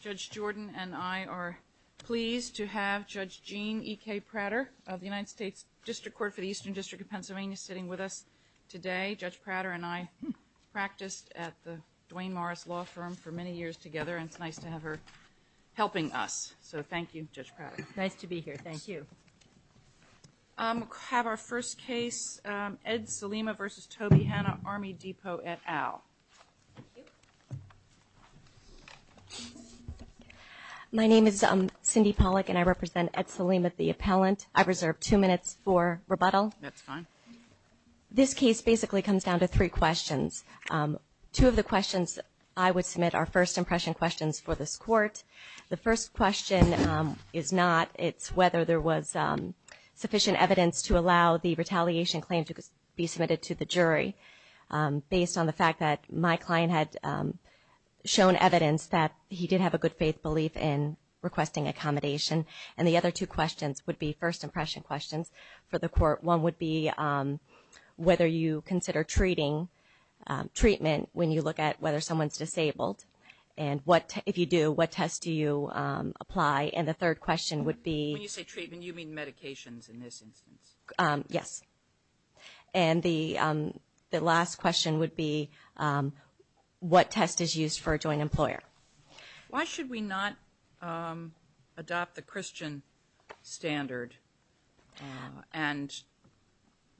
Judge Jordan and I are pleased to have Judge Jean E.K. Prater of the United States District Court for the Eastern District of Pennsylvania sitting with us today. Judge Prater and I practiced at the Dwayne Morris Law Firm for many years together and it's nice to have her helping us. So thank you, Judge Prater. Nice to be here. Thank you. I'm going to have our first case, Ed Salima v. Toby Hanna, Army Depot et al. My name is Cindy Pollack and I represent Ed Salima, the appellant. I reserve two minutes for rebuttal. That's fine. This case basically comes down to three questions. Two of the questions I would submit are first impression questions for this court. The first question is not. It's whether there was sufficient evidence to allow the retaliation claim to be submitted to the jury based on the fact that my client had shown evidence that he did have a good faith belief in requesting accommodation. And the other two questions would be first impression questions for the court. One would be whether you consider treating treatment when you look at whether someone is disabled and if you do, what test do you apply? And the third question would be. When you say treatment, you mean medications in this instance? Yes. And the last question would be what test is used for a joint employer? Why should we not adopt the Christian standard and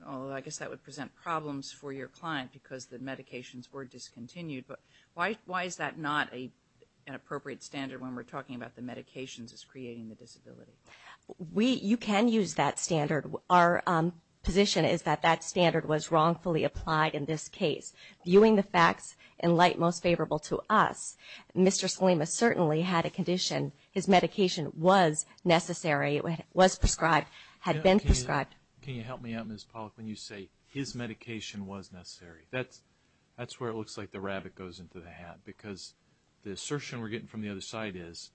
I guess that would present problems for your client because the medications were discontinued, but why is that not an appropriate standard when we're talking about the medications as creating the disability? You can use that standard. Our position is that that standard was wrongfully applied in this case. Viewing the facts in light most favorable to us, Mr. Salima certainly had a condition. His medication was necessary, was prescribed, had been prescribed. Can you help me out, Ms. Pollack, when you say his medication was necessary? That's where it looks like the rabbit goes into the hat because the assertion we're getting from the other side is,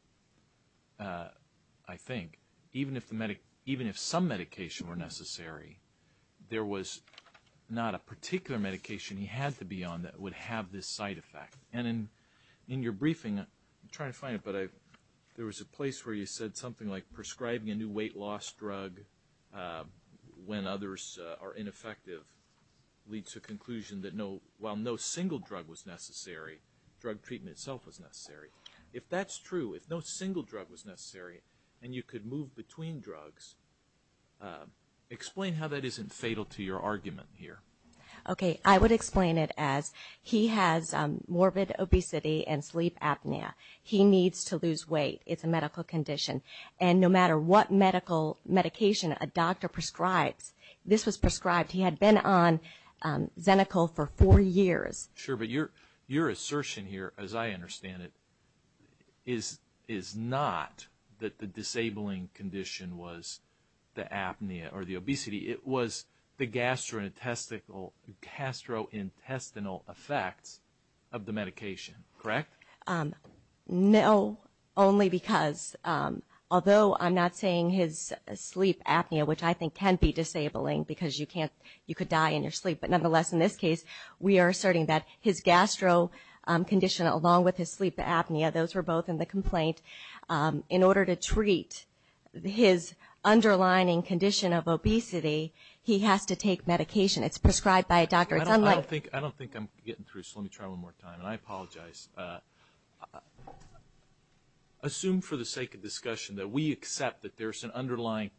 I think, even if some medication were necessary, there was not a particular medication he had to be on that would have this side effect. And in your briefing, I'm trying to find it, but there was a place where you said something like prescribing a new weight loss drug when others are ineffective leads to a conclusion that while no single drug was necessary, drug treatment itself was necessary. If that's true, if no single drug was necessary and you could move between drugs, explain how that isn't fatal to your argument here. Okay, I would explain it as he has morbid obesity and sleep apnea. He needs to lose weight. It's a medical condition. And no matter what medical medication a doctor prescribes, this was prescribed. He had been on Xenical for four years. Sure, but your assertion here, as I understand it, is not that the disabling condition was the apnea or the obesity. It was the gastrointestinal effects of the medication, correct? No, only because although I'm not saying his sleep apnea, which I think can be disabling because you can't, you could die in your sleep, but nonetheless in this case we are asserting that his gastro condition along with his sleep apnea, those were both in the complaint. In order to treat his underlining condition of obesity, he has to take medication. It's prescribed by a doctor. It's unlike... I don't think I'm getting through, so let me try one more time, and I apologize. Assume for the sake of discussion that we accept that there's an underlying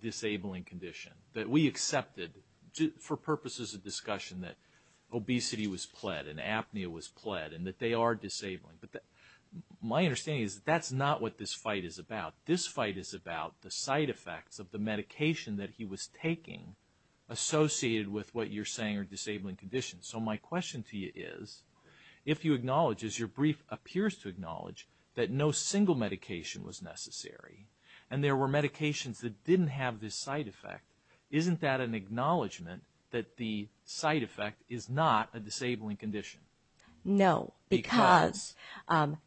disabling condition, that we accepted for purposes of discussion that obesity was pled and apnea was pled and that they are disabling, but my understanding is that that's not what this fight is about. This fight is about the side effects of the medication that he was taking associated with what you're saying are disabling conditions. So my question to you is, if you acknowledge, as your brief appears to acknowledge, that no single medication was necessary and there were medications that didn't have this side effect, isn't that an acknowledgement that the side effect is not a disabling condition? No, because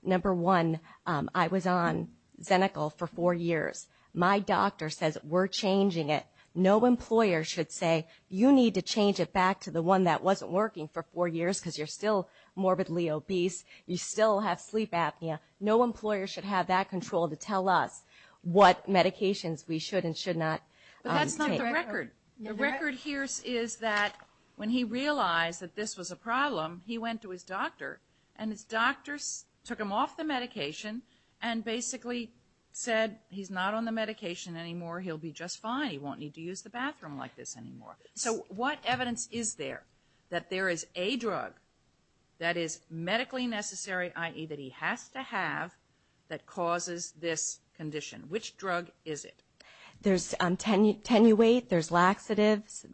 number one, I was on Xenical for four years. My doctor says we're changing it. No employer should say, you need to change it back to the one that wasn't working for four years because you're still morbidly obese, you still have sleep apnea. No employer should have that control to tell us what medications we should and should not take. But that's not the record. The record here is that when he realized that this was a problem, he went to his doctor and his doctor took him off the medication and basically said, he's not on the medication anymore. He'll be just fine. He won't need to use the bathroom like this anymore. So what evidence is there that there is a drug that is medically necessary, i.e. that he has to have, that causes this condition? Which drug is it? There's Tenuate, there's laxatives,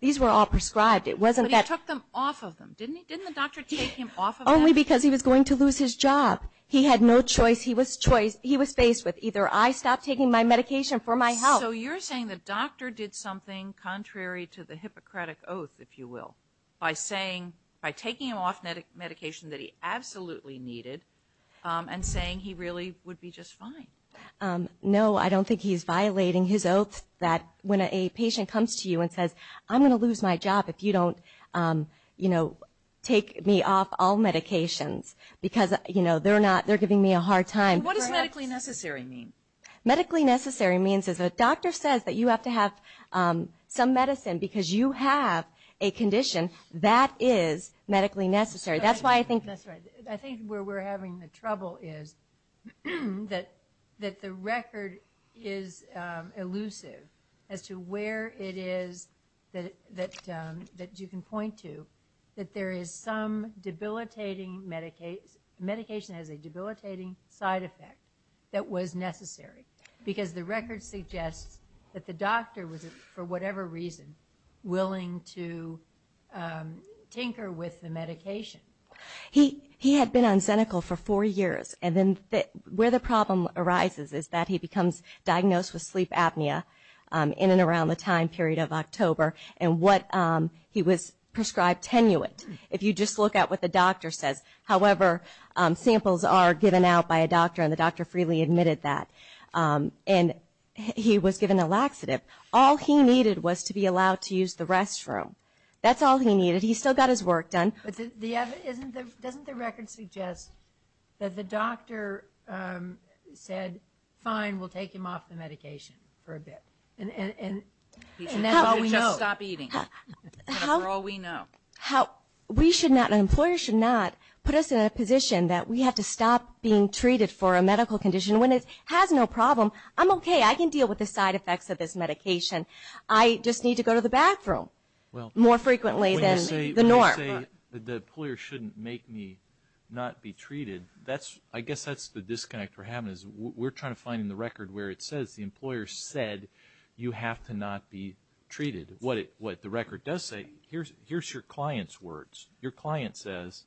these were all prescribed. It wasn't that- But he took them off of them. Didn't the doctor take him off of them? Only because he was going to lose his job. He had no choice. He was faced with either I stop taking my medication for my health- So you're saying the doctor did something contrary to the Hippocratic Oath, if you will, by saying, by taking him off medication that he absolutely needed and saying he really would be just fine. No, I don't think he's violating his oath that when a patient comes to you and says, I'm going to lose my job if you don't take me off all medications because they're not, it's going to be a hard time. What does medically necessary mean? Medically necessary means is a doctor says that you have to have some medicine because you have a condition that is medically necessary. That's why I think- That's right. I think where we're having the trouble is that the record is elusive as to where it is that you can point to that there is some debilitating, medication has a debilitating side effect that was necessary because the record suggests that the doctor was for whatever reason willing to tinker with the medication. He had been on Xenical for four years and then where the problem arises is that he becomes and what he was prescribed Tenuant. If you just look at what the doctor says, however, samples are given out by a doctor and the doctor freely admitted that and he was given a laxative. All he needed was to be allowed to use the restroom. That's all he needed. He still got his work done. But the other, doesn't the record suggest that the doctor said, fine, we'll take him off the medication for a bit and that's all we know. And that's all we know. He should just stop eating. That's all we know. We should not, an employer should not put us in a position that we have to stop being treated for a medical condition when it has no problem. I'm okay. I can deal with the side effects of this medication. I just need to go to the bathroom more frequently than the norm. When you say that the employer shouldn't make me not be treated, I guess that's the what the record says. The employer said you have to not be treated. What the record does say, here's your client's words. Your client says,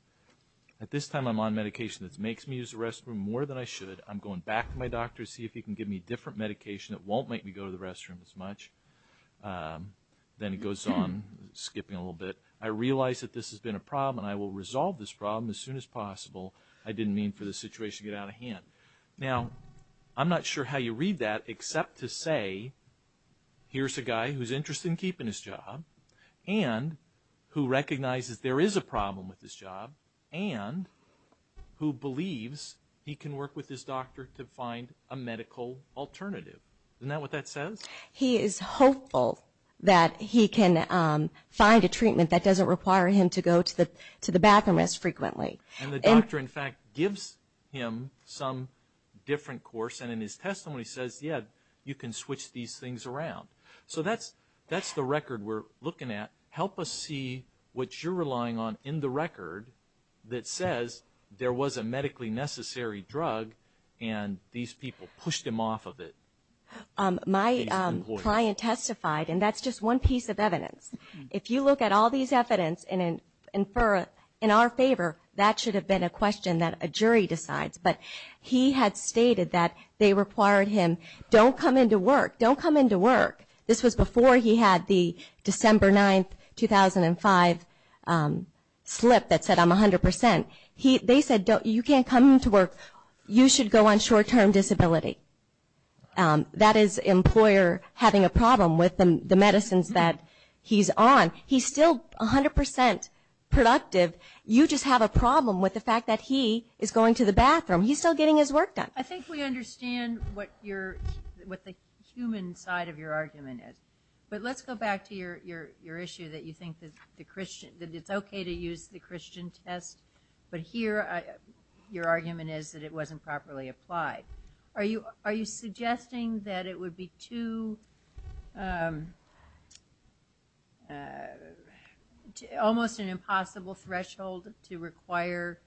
at this time I'm on medication that makes me use the restroom more than I should. I'm going back to my doctor to see if he can give me a different medication that won't make me go to the restroom as much. Then it goes on, skipping a little bit. I realize that this has been a problem and I will resolve this problem as soon as possible. I didn't mean for the situation to get out of hand. Now, I'm not sure how you read that except to say, here's a guy who's interested in keeping his job and who recognizes there is a problem with his job and who believes he can work with his doctor to find a medical alternative. Isn't that what that says? He is hopeful that he can find a treatment that doesn't require him to go to the bathroom as frequently. And the doctor, in fact, gives him some different course and in his testimony says, yeah, you can switch these things around. So that's the record we're looking at. Help us see what you're relying on in the record that says there was a medically necessary drug and these people pushed him off of it. My client testified, and that's just one piece of evidence. If you look at all these evidence and infer in our favor, that should have been a question that a jury decides. But he had stated that they required him, don't come into work, don't come into work. This was before he had the December 9, 2005 slip that said I'm 100%. They said, you can't come into work. You should go on short-term disability. That is employer having a problem with the medicines that he's on. He's still 100% productive. You just have a problem with the fact that he is going to the bathroom. He's still getting his work done. I think we understand what the human side of your argument is. But let's go back to your issue that you think that it's okay to use the Christian test, but here your argument is that it wasn't properly applied. Are you suggesting that it would be too, almost an impossible threshold to require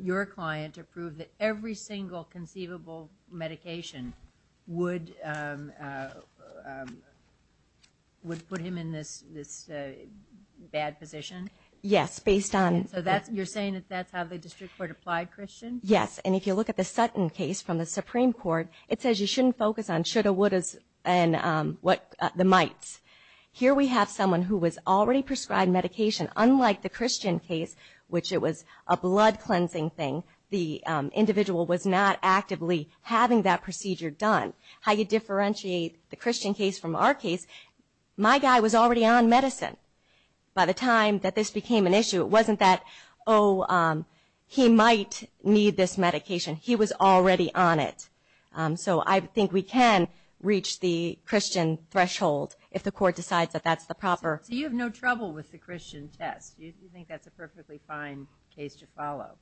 your client to prove that every single conceivable medication would put him in this bad position? Yes, based on- So you're saying that that's how the district court applied Christian? Yes. And if you look at the Sutton case from the Supreme Court, it says you shouldn't focus on shoulda, wouldas, and the mights. Here we have someone who was already prescribed medication, unlike the Christian case, which it was a blood cleansing thing. The individual was not actively having that procedure done. How you differentiate the Christian case from our case, my guy was already on medicine. By the time that this became an issue, it wasn't that, oh, he might need this medication. He was already on it. So I think we can reach the Christian threshold if the court decides that that's the proper- So you have no trouble with the Christian test? You think that's a perfectly fine case to follow?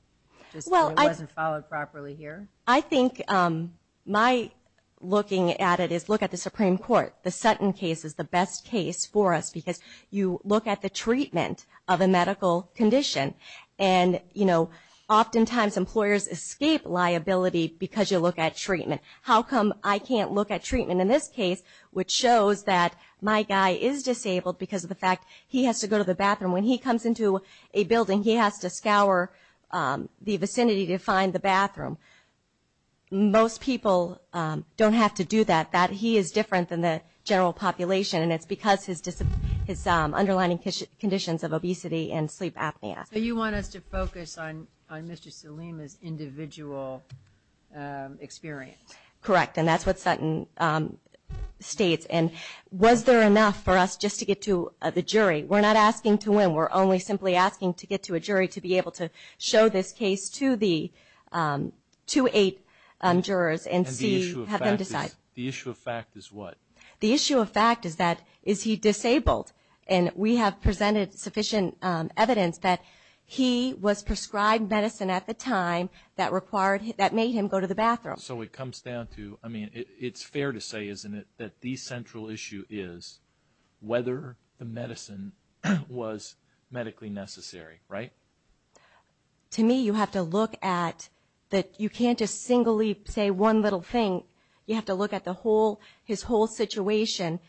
Just that it wasn't followed properly here? I think my looking at it is, look at the Supreme Court. The Sutton case is the best case for us because you look at the treatment of a medical condition. And oftentimes, employers escape liability because you look at treatment. How come I can't look at treatment in this case, which shows that my guy is disabled because of the fact he has to go to the bathroom. When he comes into a building, he has to scour the vicinity to find the bathroom. Most people don't have to do that. He is different than the general population, and it's because his underlying conditions of obesity and sleep apnea. So you want us to focus on Mr. Salim's individual experience? Correct, and that's what Sutton states. And was there enough for us just to get to the jury? We're not asking to win. We're only simply asking to get to a jury to be able to show this case to the two-eight jurors and have them decide. The issue of fact is what? The issue of fact is that, is he disabled? And we have presented sufficient evidence that he was prescribed medicine at the time that required, that made him go to the bathroom. So it comes down to, I mean, it's fair to say, isn't it, that the central issue is whether the medicine was medically necessary, right? To me, you have to look at that. You can't just singly say one little thing. You have to look at the whole, his whole situation,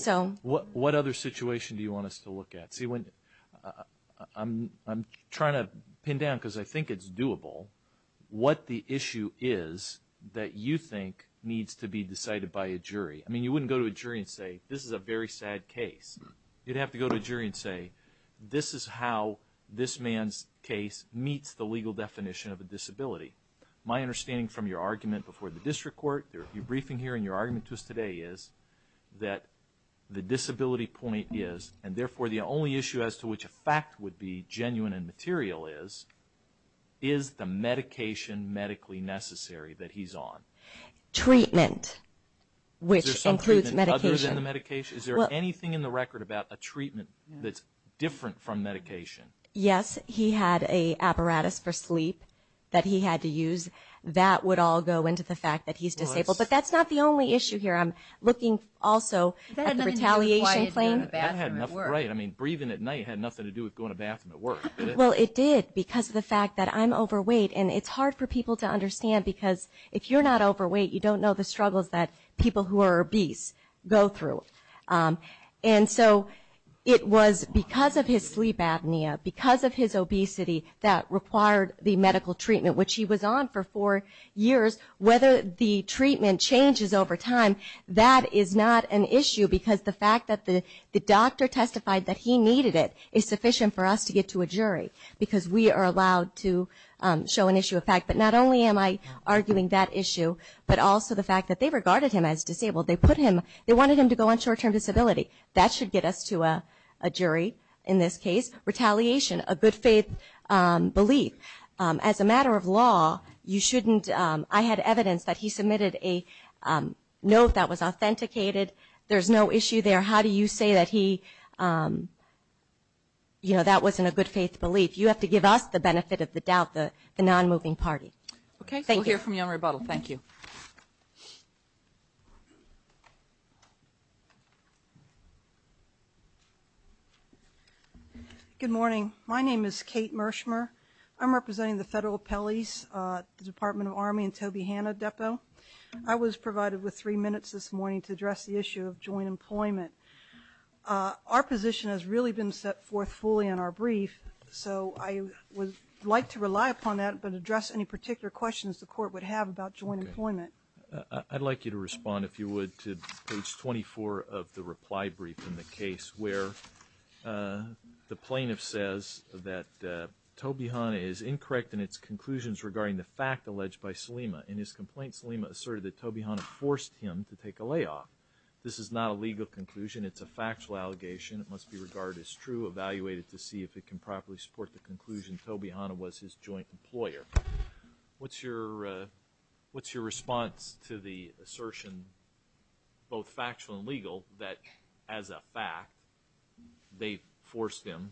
so. What other situation do you want us to look at? See, I'm trying to pin down, because I think it's doable, what the issue is that you think needs to be decided by a jury. I mean, you wouldn't go to a jury and say, this is a very sad case. You'd have to go to a jury and say, this is how this man's case meets the legal definition of a disability. My understanding from your argument before the district court, your briefing here, and your argument to us today is that the disability point is, and therefore the only issue as to which a fact would be genuine and material is, is the medication medically necessary that he's on? Treatment, which includes medication. Other than the medication? Is there anything in the record about a treatment that's different from medication? Yes, he had a apparatus for sleep that he had to use. That would all go into the fact that he's disabled. But that's not the only issue here. I'm looking also at the retaliation claim. That had nothing to do with going to the bathroom at work. Right, I mean, breathing at night had nothing to do with going to the bathroom at work. Well, it did, because of the fact that I'm overweight. And it's hard for people to understand, because if you're not overweight, you don't know the struggles that people who are obese go through. And so, it was because of his sleep apnea, because of his obesity, that required the medical treatment, which he was on for four years. Whether the treatment changes over time, that is not an issue, because the fact that the doctor testified that he needed it is sufficient for us to get to a jury. Because we are allowed to show an issue of fact. But not only am I arguing that issue, but also the fact that they regarded him as disabled. They put him, they wanted him to go on short term disability. That should get us to a jury, in this case. Retaliation, a good faith belief. As a matter of law, you shouldn't, I had evidence that he submitted a note that was authenticated. There's no issue there. How do you say that he, you know, that wasn't a good faith belief? You have to give us the benefit of the doubt, the non-moving party. Okay, we'll hear from you on rebuttal. Thank you. Good morning, my name is Kate Mershmer. I'm representing the federal appellees, the Department of Army and Toby Hanna Depot. I was provided with three minutes this morning to address the issue of joint employment. Our position has really been set forth fully in our brief, so I would like to rely upon that, but address any particular questions the court would have about joint employment. I'd like you to respond, if you would, to page 24 of the reply brief in the case, where the plaintiff says that Toby Hanna is incorrect in its conclusions regarding the fact alleged by Salima. In his complaint, Salima asserted that Toby Hanna forced him to take a layoff. This is not a legal conclusion, it's a factual allegation. It must be regarded as true, evaluated to see if it can properly support the conclusion Toby Hanna was his joint employer. What's your response to the assertion, both factual and legal, that as a fact, they forced him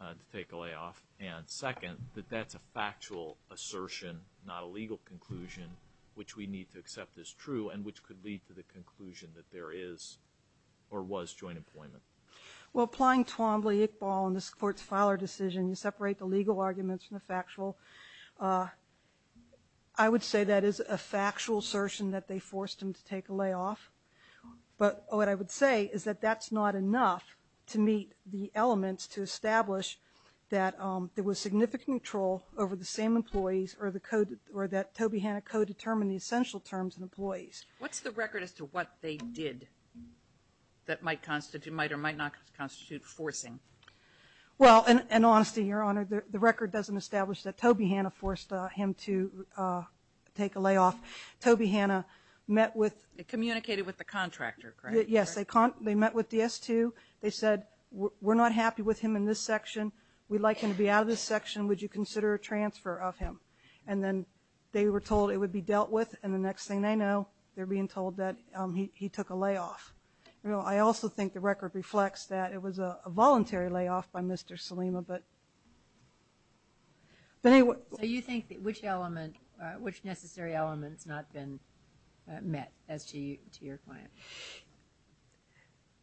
to take a layoff? And second, that that's a factual assertion, not a legal conclusion, which we need to accept as true and which could lead to the conclusion that there is or was joint employment. Well, applying Twombly-Iqbal in this court's filer decision, you separate the legal arguments from the factual. I would say that is a factual assertion that they forced him to take a layoff. But what I would say is that that's not enough to meet the elements to establish that there was significant control over the same employees or that Toby Hanna co-determined the essential terms and employees. What's the record as to what they did that might constitute, might or might not constitute forcing? Well, in honesty, your honor, the record doesn't establish that Toby Hanna forced him to take a layoff. Toby Hanna met with- It communicated with the contractor, correct? Yes, they met with DS2. They said, we're not happy with him in this section. We'd like him to be out of this section. Would you consider a transfer of him? And then they were told it would be dealt with, and the next thing they know, they're being told that he took a layoff. I also think the record reflects that it was a voluntary layoff by Mr. Salima, but. But anyway- So you think which element, which necessary element's not been met as to your client?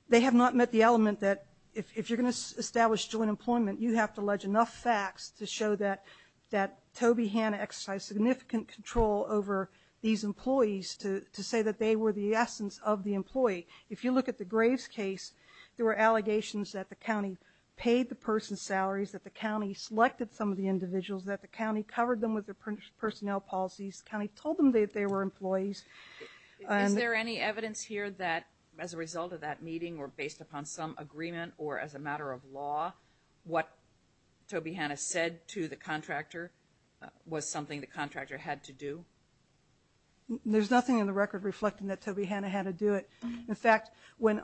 They have not met the element that if you're going to establish joint employment, you have to allege enough facts to show that Toby Hanna exercised significant control over these employees to say that they were the essence of the employee. If you look at the Graves case, there were allegations that the county paid the person's salaries, that the county selected some of the individuals, that the county covered them with their personnel policies. The county told them that they were employees. Is there any evidence here that as a result of that meeting or based upon some agreement or as a matter of law, what Toby Hanna said to the contractor was something the contractor had to do? There's nothing in the record reflecting that Toby Hanna had to do it. In fact, when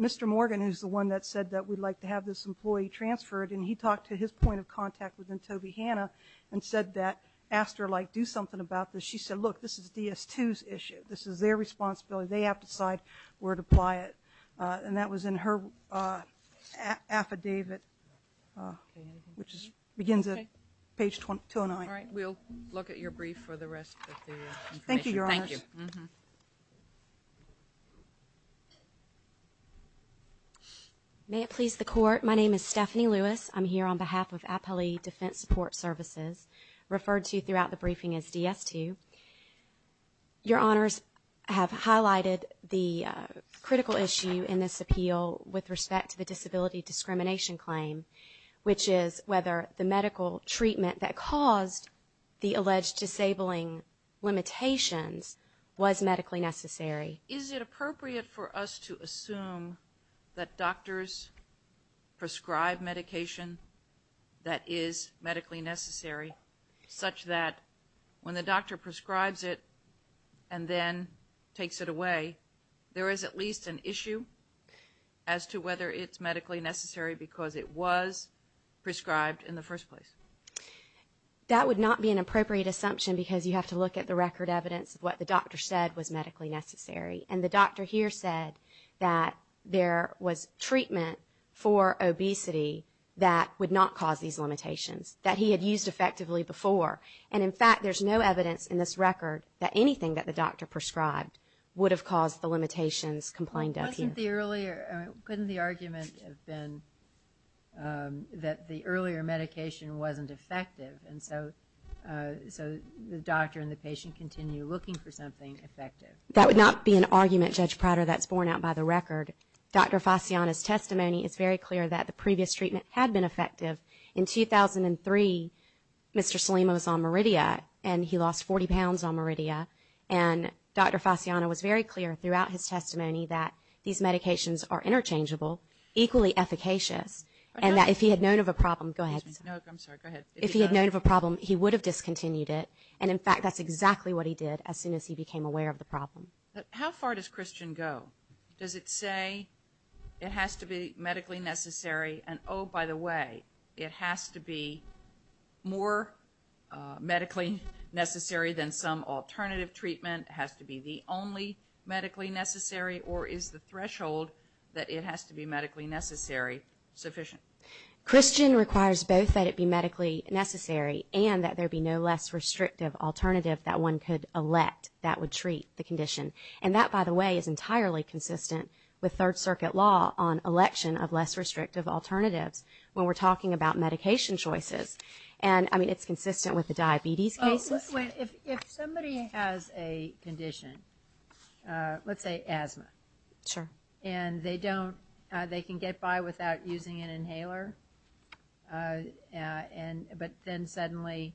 Mr. Morgan, who's the one that said that we'd like to have this employee transferred, and he talked to his point of contact within Toby Hanna and said that, asked her, like, do something about this. She said, look, this is DS2's issue. This is their responsibility. They have to decide where to apply it. And that was in her affidavit, which begins at page 209. All right, we'll look at your brief for the rest of the information. Thank you, Your Honors. Thank you. May it please the court, my name is Stephanie Lewis. I'm here on behalf of Appali Defense Support Services, referred to throughout the briefing as DS2. Your Honors have highlighted the critical issue in this appeal with respect to the disability discrimination claim, which is whether the medical treatment that caused the alleged disabling limitations was medically necessary. Is it appropriate for us to assume that doctors prescribe medication that is medically necessary such that when the doctor prescribes it and then takes it away, there is at least an issue as to whether it's medically necessary because it was prescribed in the first place? That would not be an appropriate assumption because you have to look at the record evidence of what the doctor said was medically necessary. And the doctor here said that there was treatment for obesity that would not cause these limitations, that he had used effectively before. And in fact, there's no evidence in this record that anything that the doctor prescribed would have caused the limitations complained of here. Couldn't the argument have been that the earlier medication wasn't effective and so the doctor and the patient continue looking for something effective? That would not be an argument, Judge Prater, that's borne out by the record. Dr. Fasciano's testimony is very clear that the previous treatment had been effective. In 2003, Mr. Salima was on Meridia and he lost 40 pounds on Meridia. And Dr. Fasciano was very clear throughout his testimony that these medications are interchangeable, equally efficacious, and that if he had known of a problem, he would have discontinued it. And in fact, that's exactly what he did as soon as he became aware of the problem. How far does Christian go? Does it say it has to be medically necessary and, oh, by the way, it has to be more medically necessary than some alternative treatment, has to be the only medically necessary, or is the threshold that it has to be medically necessary sufficient? Christian requires both that it be medically necessary and that there be no less restrictive alternative that one could elect that would treat the condition. And that, by the way, is entirely consistent with Third Circuit law on election of less restrictive alternatives when we're talking about medication choices. And, I mean, it's consistent with the diabetes cases. If somebody has a condition, let's say asthma. Sure. And they don't, they can get by without using an inhaler. And, but then suddenly,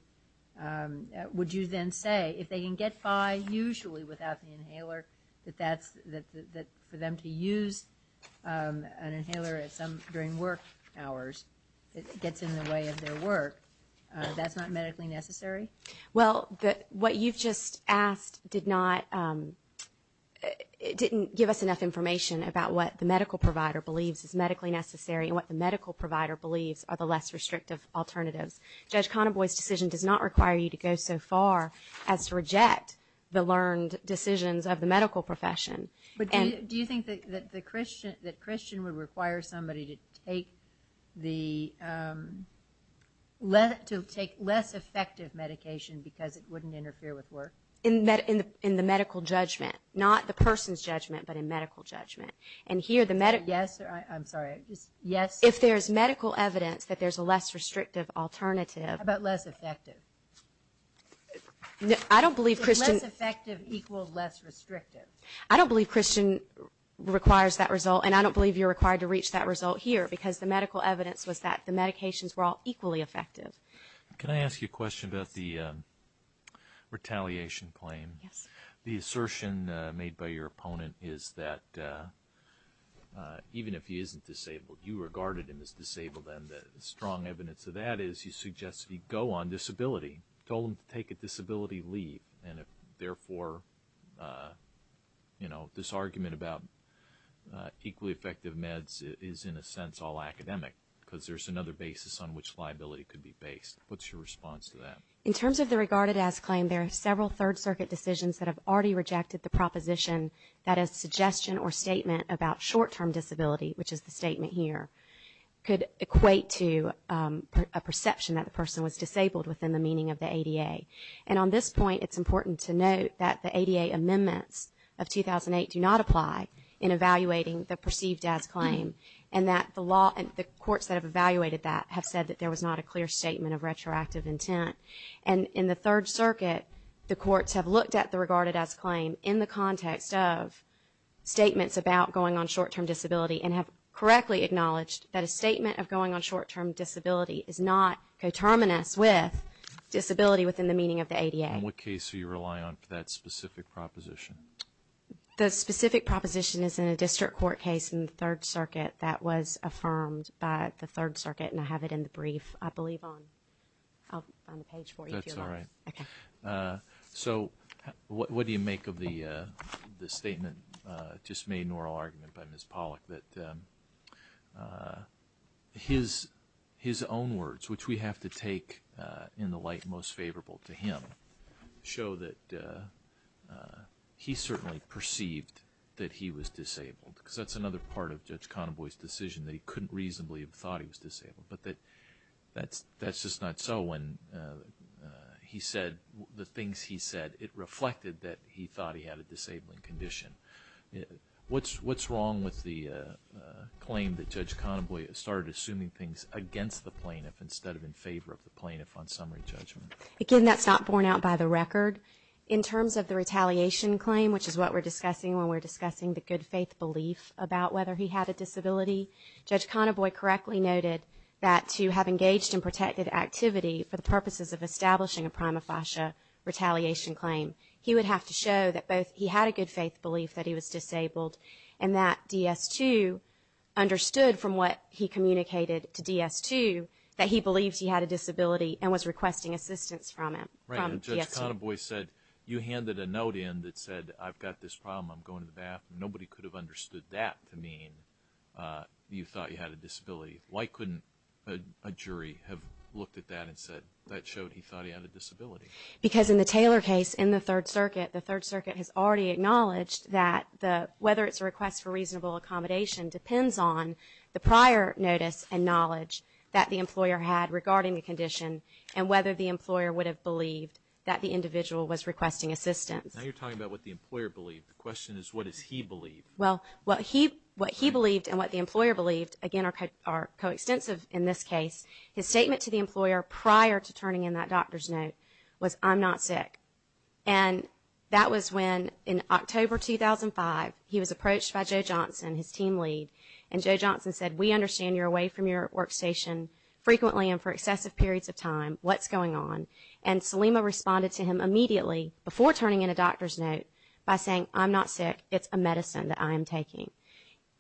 would you then say if they can get by usually without the inhaler, that that's, that for them to use an inhaler at some, during work hours, it gets in the way of their work, that's not medically necessary? Well, what you've just asked did not, didn't give us enough information about what the medical provider believes is medically necessary and what the medical provider believes are the less restrictive alternatives. Judge Conaboy's decision does not require you to go so far as to reject the learned decisions of the medical profession. But do you think that the Christian, that Christian would require somebody to take the, to take less effective medication because it wouldn't interfere with work? In the medical judgment. Not the person's judgment, but in medical judgment. And here, the medic, yes, I'm sorry. Yes. If there's medical evidence that there's a less restrictive alternative. How about less effective? I don't believe Christian. Is less effective equal less restrictive? I don't believe Christian requires that result. And I don't believe you're required to reach that result here. Because the medical evidence was that the medications were all equally effective. Can I ask you a question about the retaliation claim? Yes. The assertion made by your opponent is that even if he isn't disabled, you regarded him as disabled. And the strong evidence of that is you suggest he go on disability. Told him to take a disability leave. And therefore, you know, this argument about equally effective meds is in a sense all academic. Because there's another basis on which liability could be based. What's your response to that? In terms of the regarded as claim, there are several Third Circuit decisions that have already rejected the proposition that a suggestion or statement about short term disability, which is the statement here, could equate to a perception that the person was disabled within the meaning of the ADA. And on this point, it's important to note that the ADA amendments of 2008 do not apply in evaluating the perceived as claim. And that the law and the courts that have evaluated that have said that there was not a clear statement of retroactive intent. And in the Third Circuit, the courts have looked at the regarded as claim in the context of statements about going on short term disability and have correctly acknowledged that a statement of going on short term disability is not coterminous with disability within the meaning of the ADA. In what case are you relying on for that specific proposition? The specific proposition is in a district court case in the Third Circuit that was affirmed by the Third Circuit. And I have it in the brief, I believe, on the page for you. That's all right. So what do you make of the statement just made in oral argument by Ms. Pollack that his own words, which we have to take in the light most favorable to him, show that he certainly perceived that he was disabled? Because that's another part of Judge Connaboy's decision that he couldn't reasonably have thought he was disabled. But that's just not so when he said the things he said. It reflected that he thought he had a disabling condition. What's wrong with the claim that Judge Connaboy started assuming things against the plaintiff instead of in favor of the plaintiff on summary judgment? Again, that's not borne out by the record. In terms of the retaliation claim, which is what we're discussing when we're discussing the good faith belief about whether he had a disability, Judge Connaboy correctly noted that to have engaged in protective activity for the purposes of establishing a prima facie retaliation claim, he would have to show that both he had a good faith belief that he was disabled and that DS-2 understood from what he communicated to DS-2 that he believed he had a disability and was requesting assistance from him. Right, and Judge Connaboy said, you handed a note in that said, I've got this problem, I'm going to the bathroom. Nobody could have understood that to mean you thought you had a disability. Why couldn't a jury have looked at that and said, that showed he thought he had a disability? Because in the Taylor case in the Third Circuit, the Third Circuit has already acknowledged that whether it's a request for reasonable accommodation depends on the prior notice and knowledge that the employer had regarding the condition and whether the employer would have believed that the individual was requesting assistance. Now you're talking about what the employer believed. The question is, what does he believe? Well, what he believed and what the employer believed, again, are coextensive in this case. His statement to the employer prior to turning in that doctor's note was, I'm not sick. And that was when in October 2005, he was approached by Joe Johnson, his team lead, and Joe Johnson said, we understand you're away from your workstation frequently and for excessive periods of time. What's going on? And Salima responded to him immediately before turning in a doctor's note by saying, I'm not sick, it's a medicine that I am taking.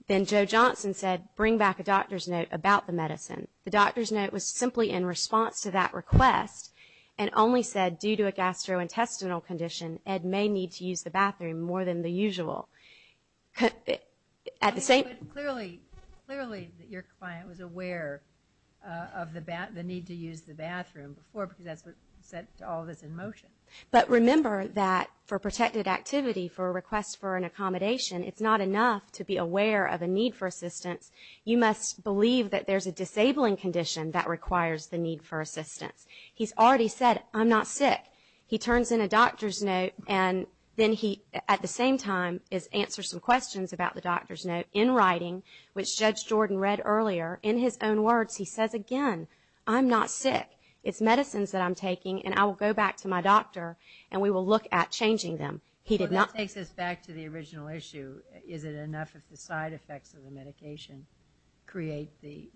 Then Joe Johnson said, bring back a doctor's note about the medicine. The doctor's note was simply in response to that request and only said, due to a gastrointestinal condition, Ed may need to use the bathroom more than the usual. At the same... Clearly, clearly your client was aware of the need to use the bathroom before because that's what set all this in motion. But remember that for protected activity, for a request for an accommodation, it's not enough to be aware of a need for assistance. You must believe that there's a disabling condition that requires the need for assistance. He's already said, I'm not sick. He turns in a doctor's note and then he, at the same time, answers some questions about the doctor's note in writing, which Judge Jordan read earlier. In his own words, he says again, I'm not sick. It's medicines that I'm taking and I will go back to my doctor and we will look at changing them. He did not... Well, that takes us back to the original issue. Is it enough if the side effects of the medication create the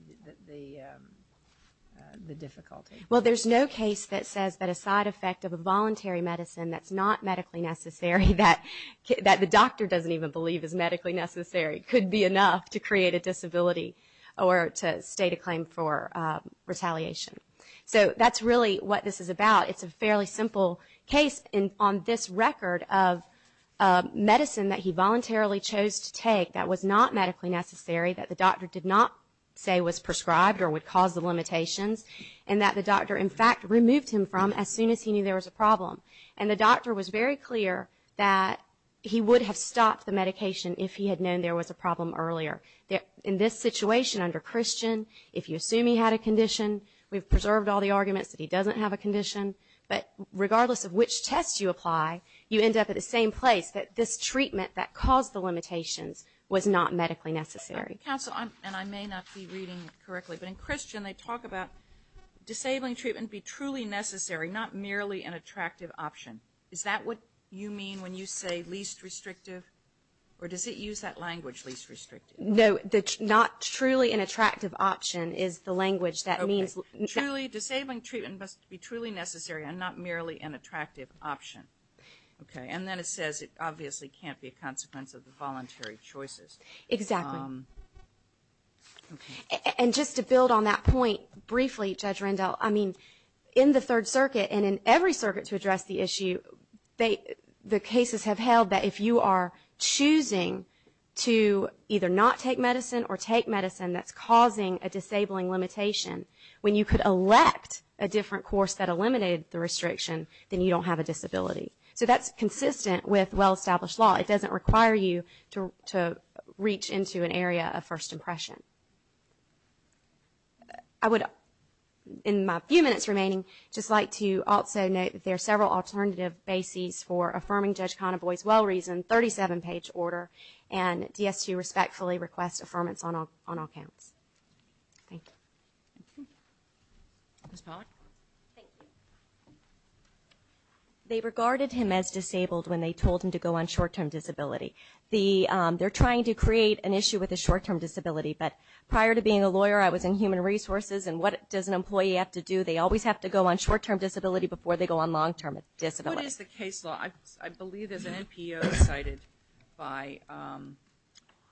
difficulty? Well, there's no case that says that a side effect of a voluntary medicine that's not medically necessary, that the doctor doesn't even believe is medically necessary, could be enough to create a disability or to state a claim for retaliation. So that's really what this is about. It's a fairly simple case on this record of medicine that he voluntarily chose to take that was not medically necessary, that the doctor did not say was prescribed or would cause the limitations, and that the doctor, in fact, removed him from as soon as he knew there was a problem. And the doctor was very clear that he would have stopped the medication if he had known there was a problem earlier. In this situation under Christian, if you assume he had a condition, we've preserved all the arguments that he doesn't have a condition, but regardless of which test you apply, you end up at the same place, that this treatment that caused the limitations was not medically necessary. Counsel, and I may not be reading correctly, but in Christian they talk about disabling treatment be truly necessary, not merely an attractive option. Is that what you mean when you say least restrictive? Or does it use that language, least restrictive? No, the not truly an attractive option is the language that means... Truly, disabling treatment must be truly necessary and not merely an attractive option. Okay, and then it says it obviously can't be a consequence of the voluntary choices. Exactly. And just to build on that point briefly, Judge Rendell, I mean, in the Third Circuit and in every circuit to address the issue, the cases have held that if you are choosing to either not take medicine or take medicine that's causing a disabling limitation, when you could elect a different course that eliminated the restriction, then you don't have a disability. So that's consistent with well-established law. It doesn't require you to reach into an area of first impression. I would, in my few minutes remaining, just like to also note that there are several alternative bases for affirming Judge Conaboy's well reason, 37-page order, and DSU respectfully requests affirmance on all counts. Thank you. Ms. Pollack. Thank you. They regarded him as disabled when they told him to go on short-term disability. They're trying to create an issue with a short-term disability, but prior to being a lawyer, I was in human resources, and what does an employee have to do? They always have to go on short-term disability before they go on long-term disability. What is the case law? I believe there's an NPO cited by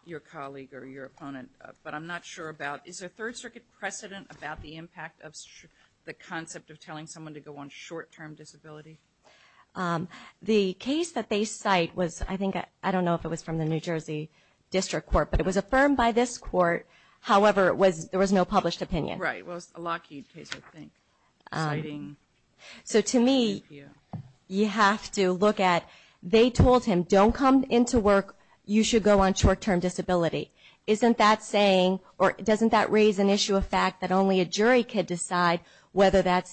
your colleague or your opponent, but I'm not sure about, is there a Third Circuit precedent about the impact of the concept of telling someone to go on short-term disability? The case that they cite was, I think, I don't know if it was from the New Jersey District Court, but it was affirmed by this court. However, there was no published opinion. Right, well, it's a Lockheed case, I think. So to me, you have to look at, they told him, don't come into work, you should go on short-term disability. Isn't that saying, or doesn't that raise an issue of fact that only a jury could decide whether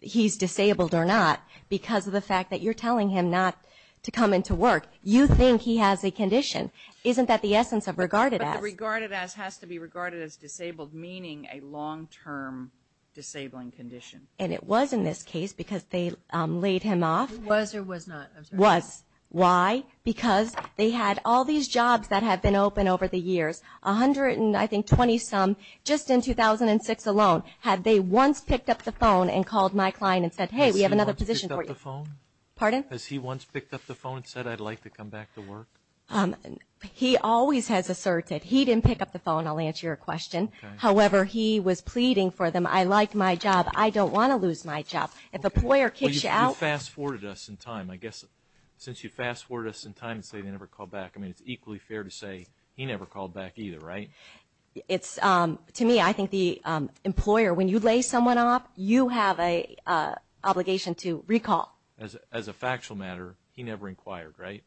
he's disabled or not because of the fact that you're telling him not to come into work? You think he has a condition. Isn't that the essence of regarded as? But the regarded as has to be regarded as disabled, meaning a long-term disabling condition. And it was in this case because they laid him off. It was or was not? It was. Why? Because they had all these jobs that have been open over the years, 120 some, just in 2006 alone, had they once picked up the phone and called my client and said, hey, we have another position for you. Has he once picked up the phone? Pardon? He always has asserted. He didn't pick up the phone. I'll answer your question. However, he was pleading for them. I like my job. I don't want to lose my job. If a employer kicks you out. You fast forwarded us in time. I guess since you fast forwarded us in time, you say they never called back. I mean, it's equally fair to say he never called back either, right? To me, I think the employer, when you lay someone off, you have an obligation to recall. As a factual matter, he never inquired, right?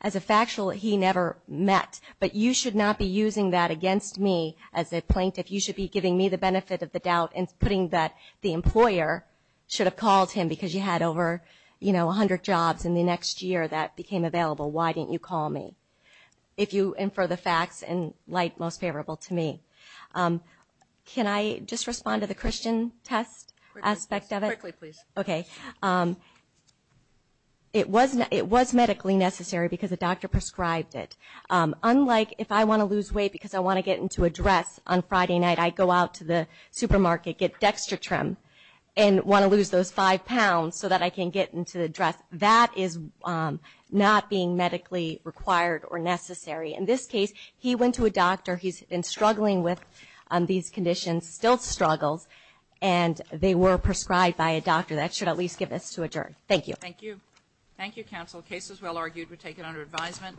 As a factual, he never met. But you should not be using that against me as a plaintiff. You should be giving me the benefit of the doubt and putting that the employer should have called him because you had over 100 jobs in the next year that became available. Why didn't you call me? If you infer the facts in light most favorable to me. Can I just respond to the Christian test aspect of it? Quickly, please. Okay. It was medically necessary because the doctor prescribed it. Unlike if I want to lose weight because I want to get into a dress on Friday night, I go out to the supermarket, get DextraTrim and want to lose those five pounds so that I can get into the dress. That is not being medically required or necessary. In this case, he went to a doctor. He's been struggling with these conditions, still struggles, and they were prescribed by a doctor. That should at least get us to adjourn. Thank you. Thank you. Thank you, counsel. The case is well argued. We take it under advisement.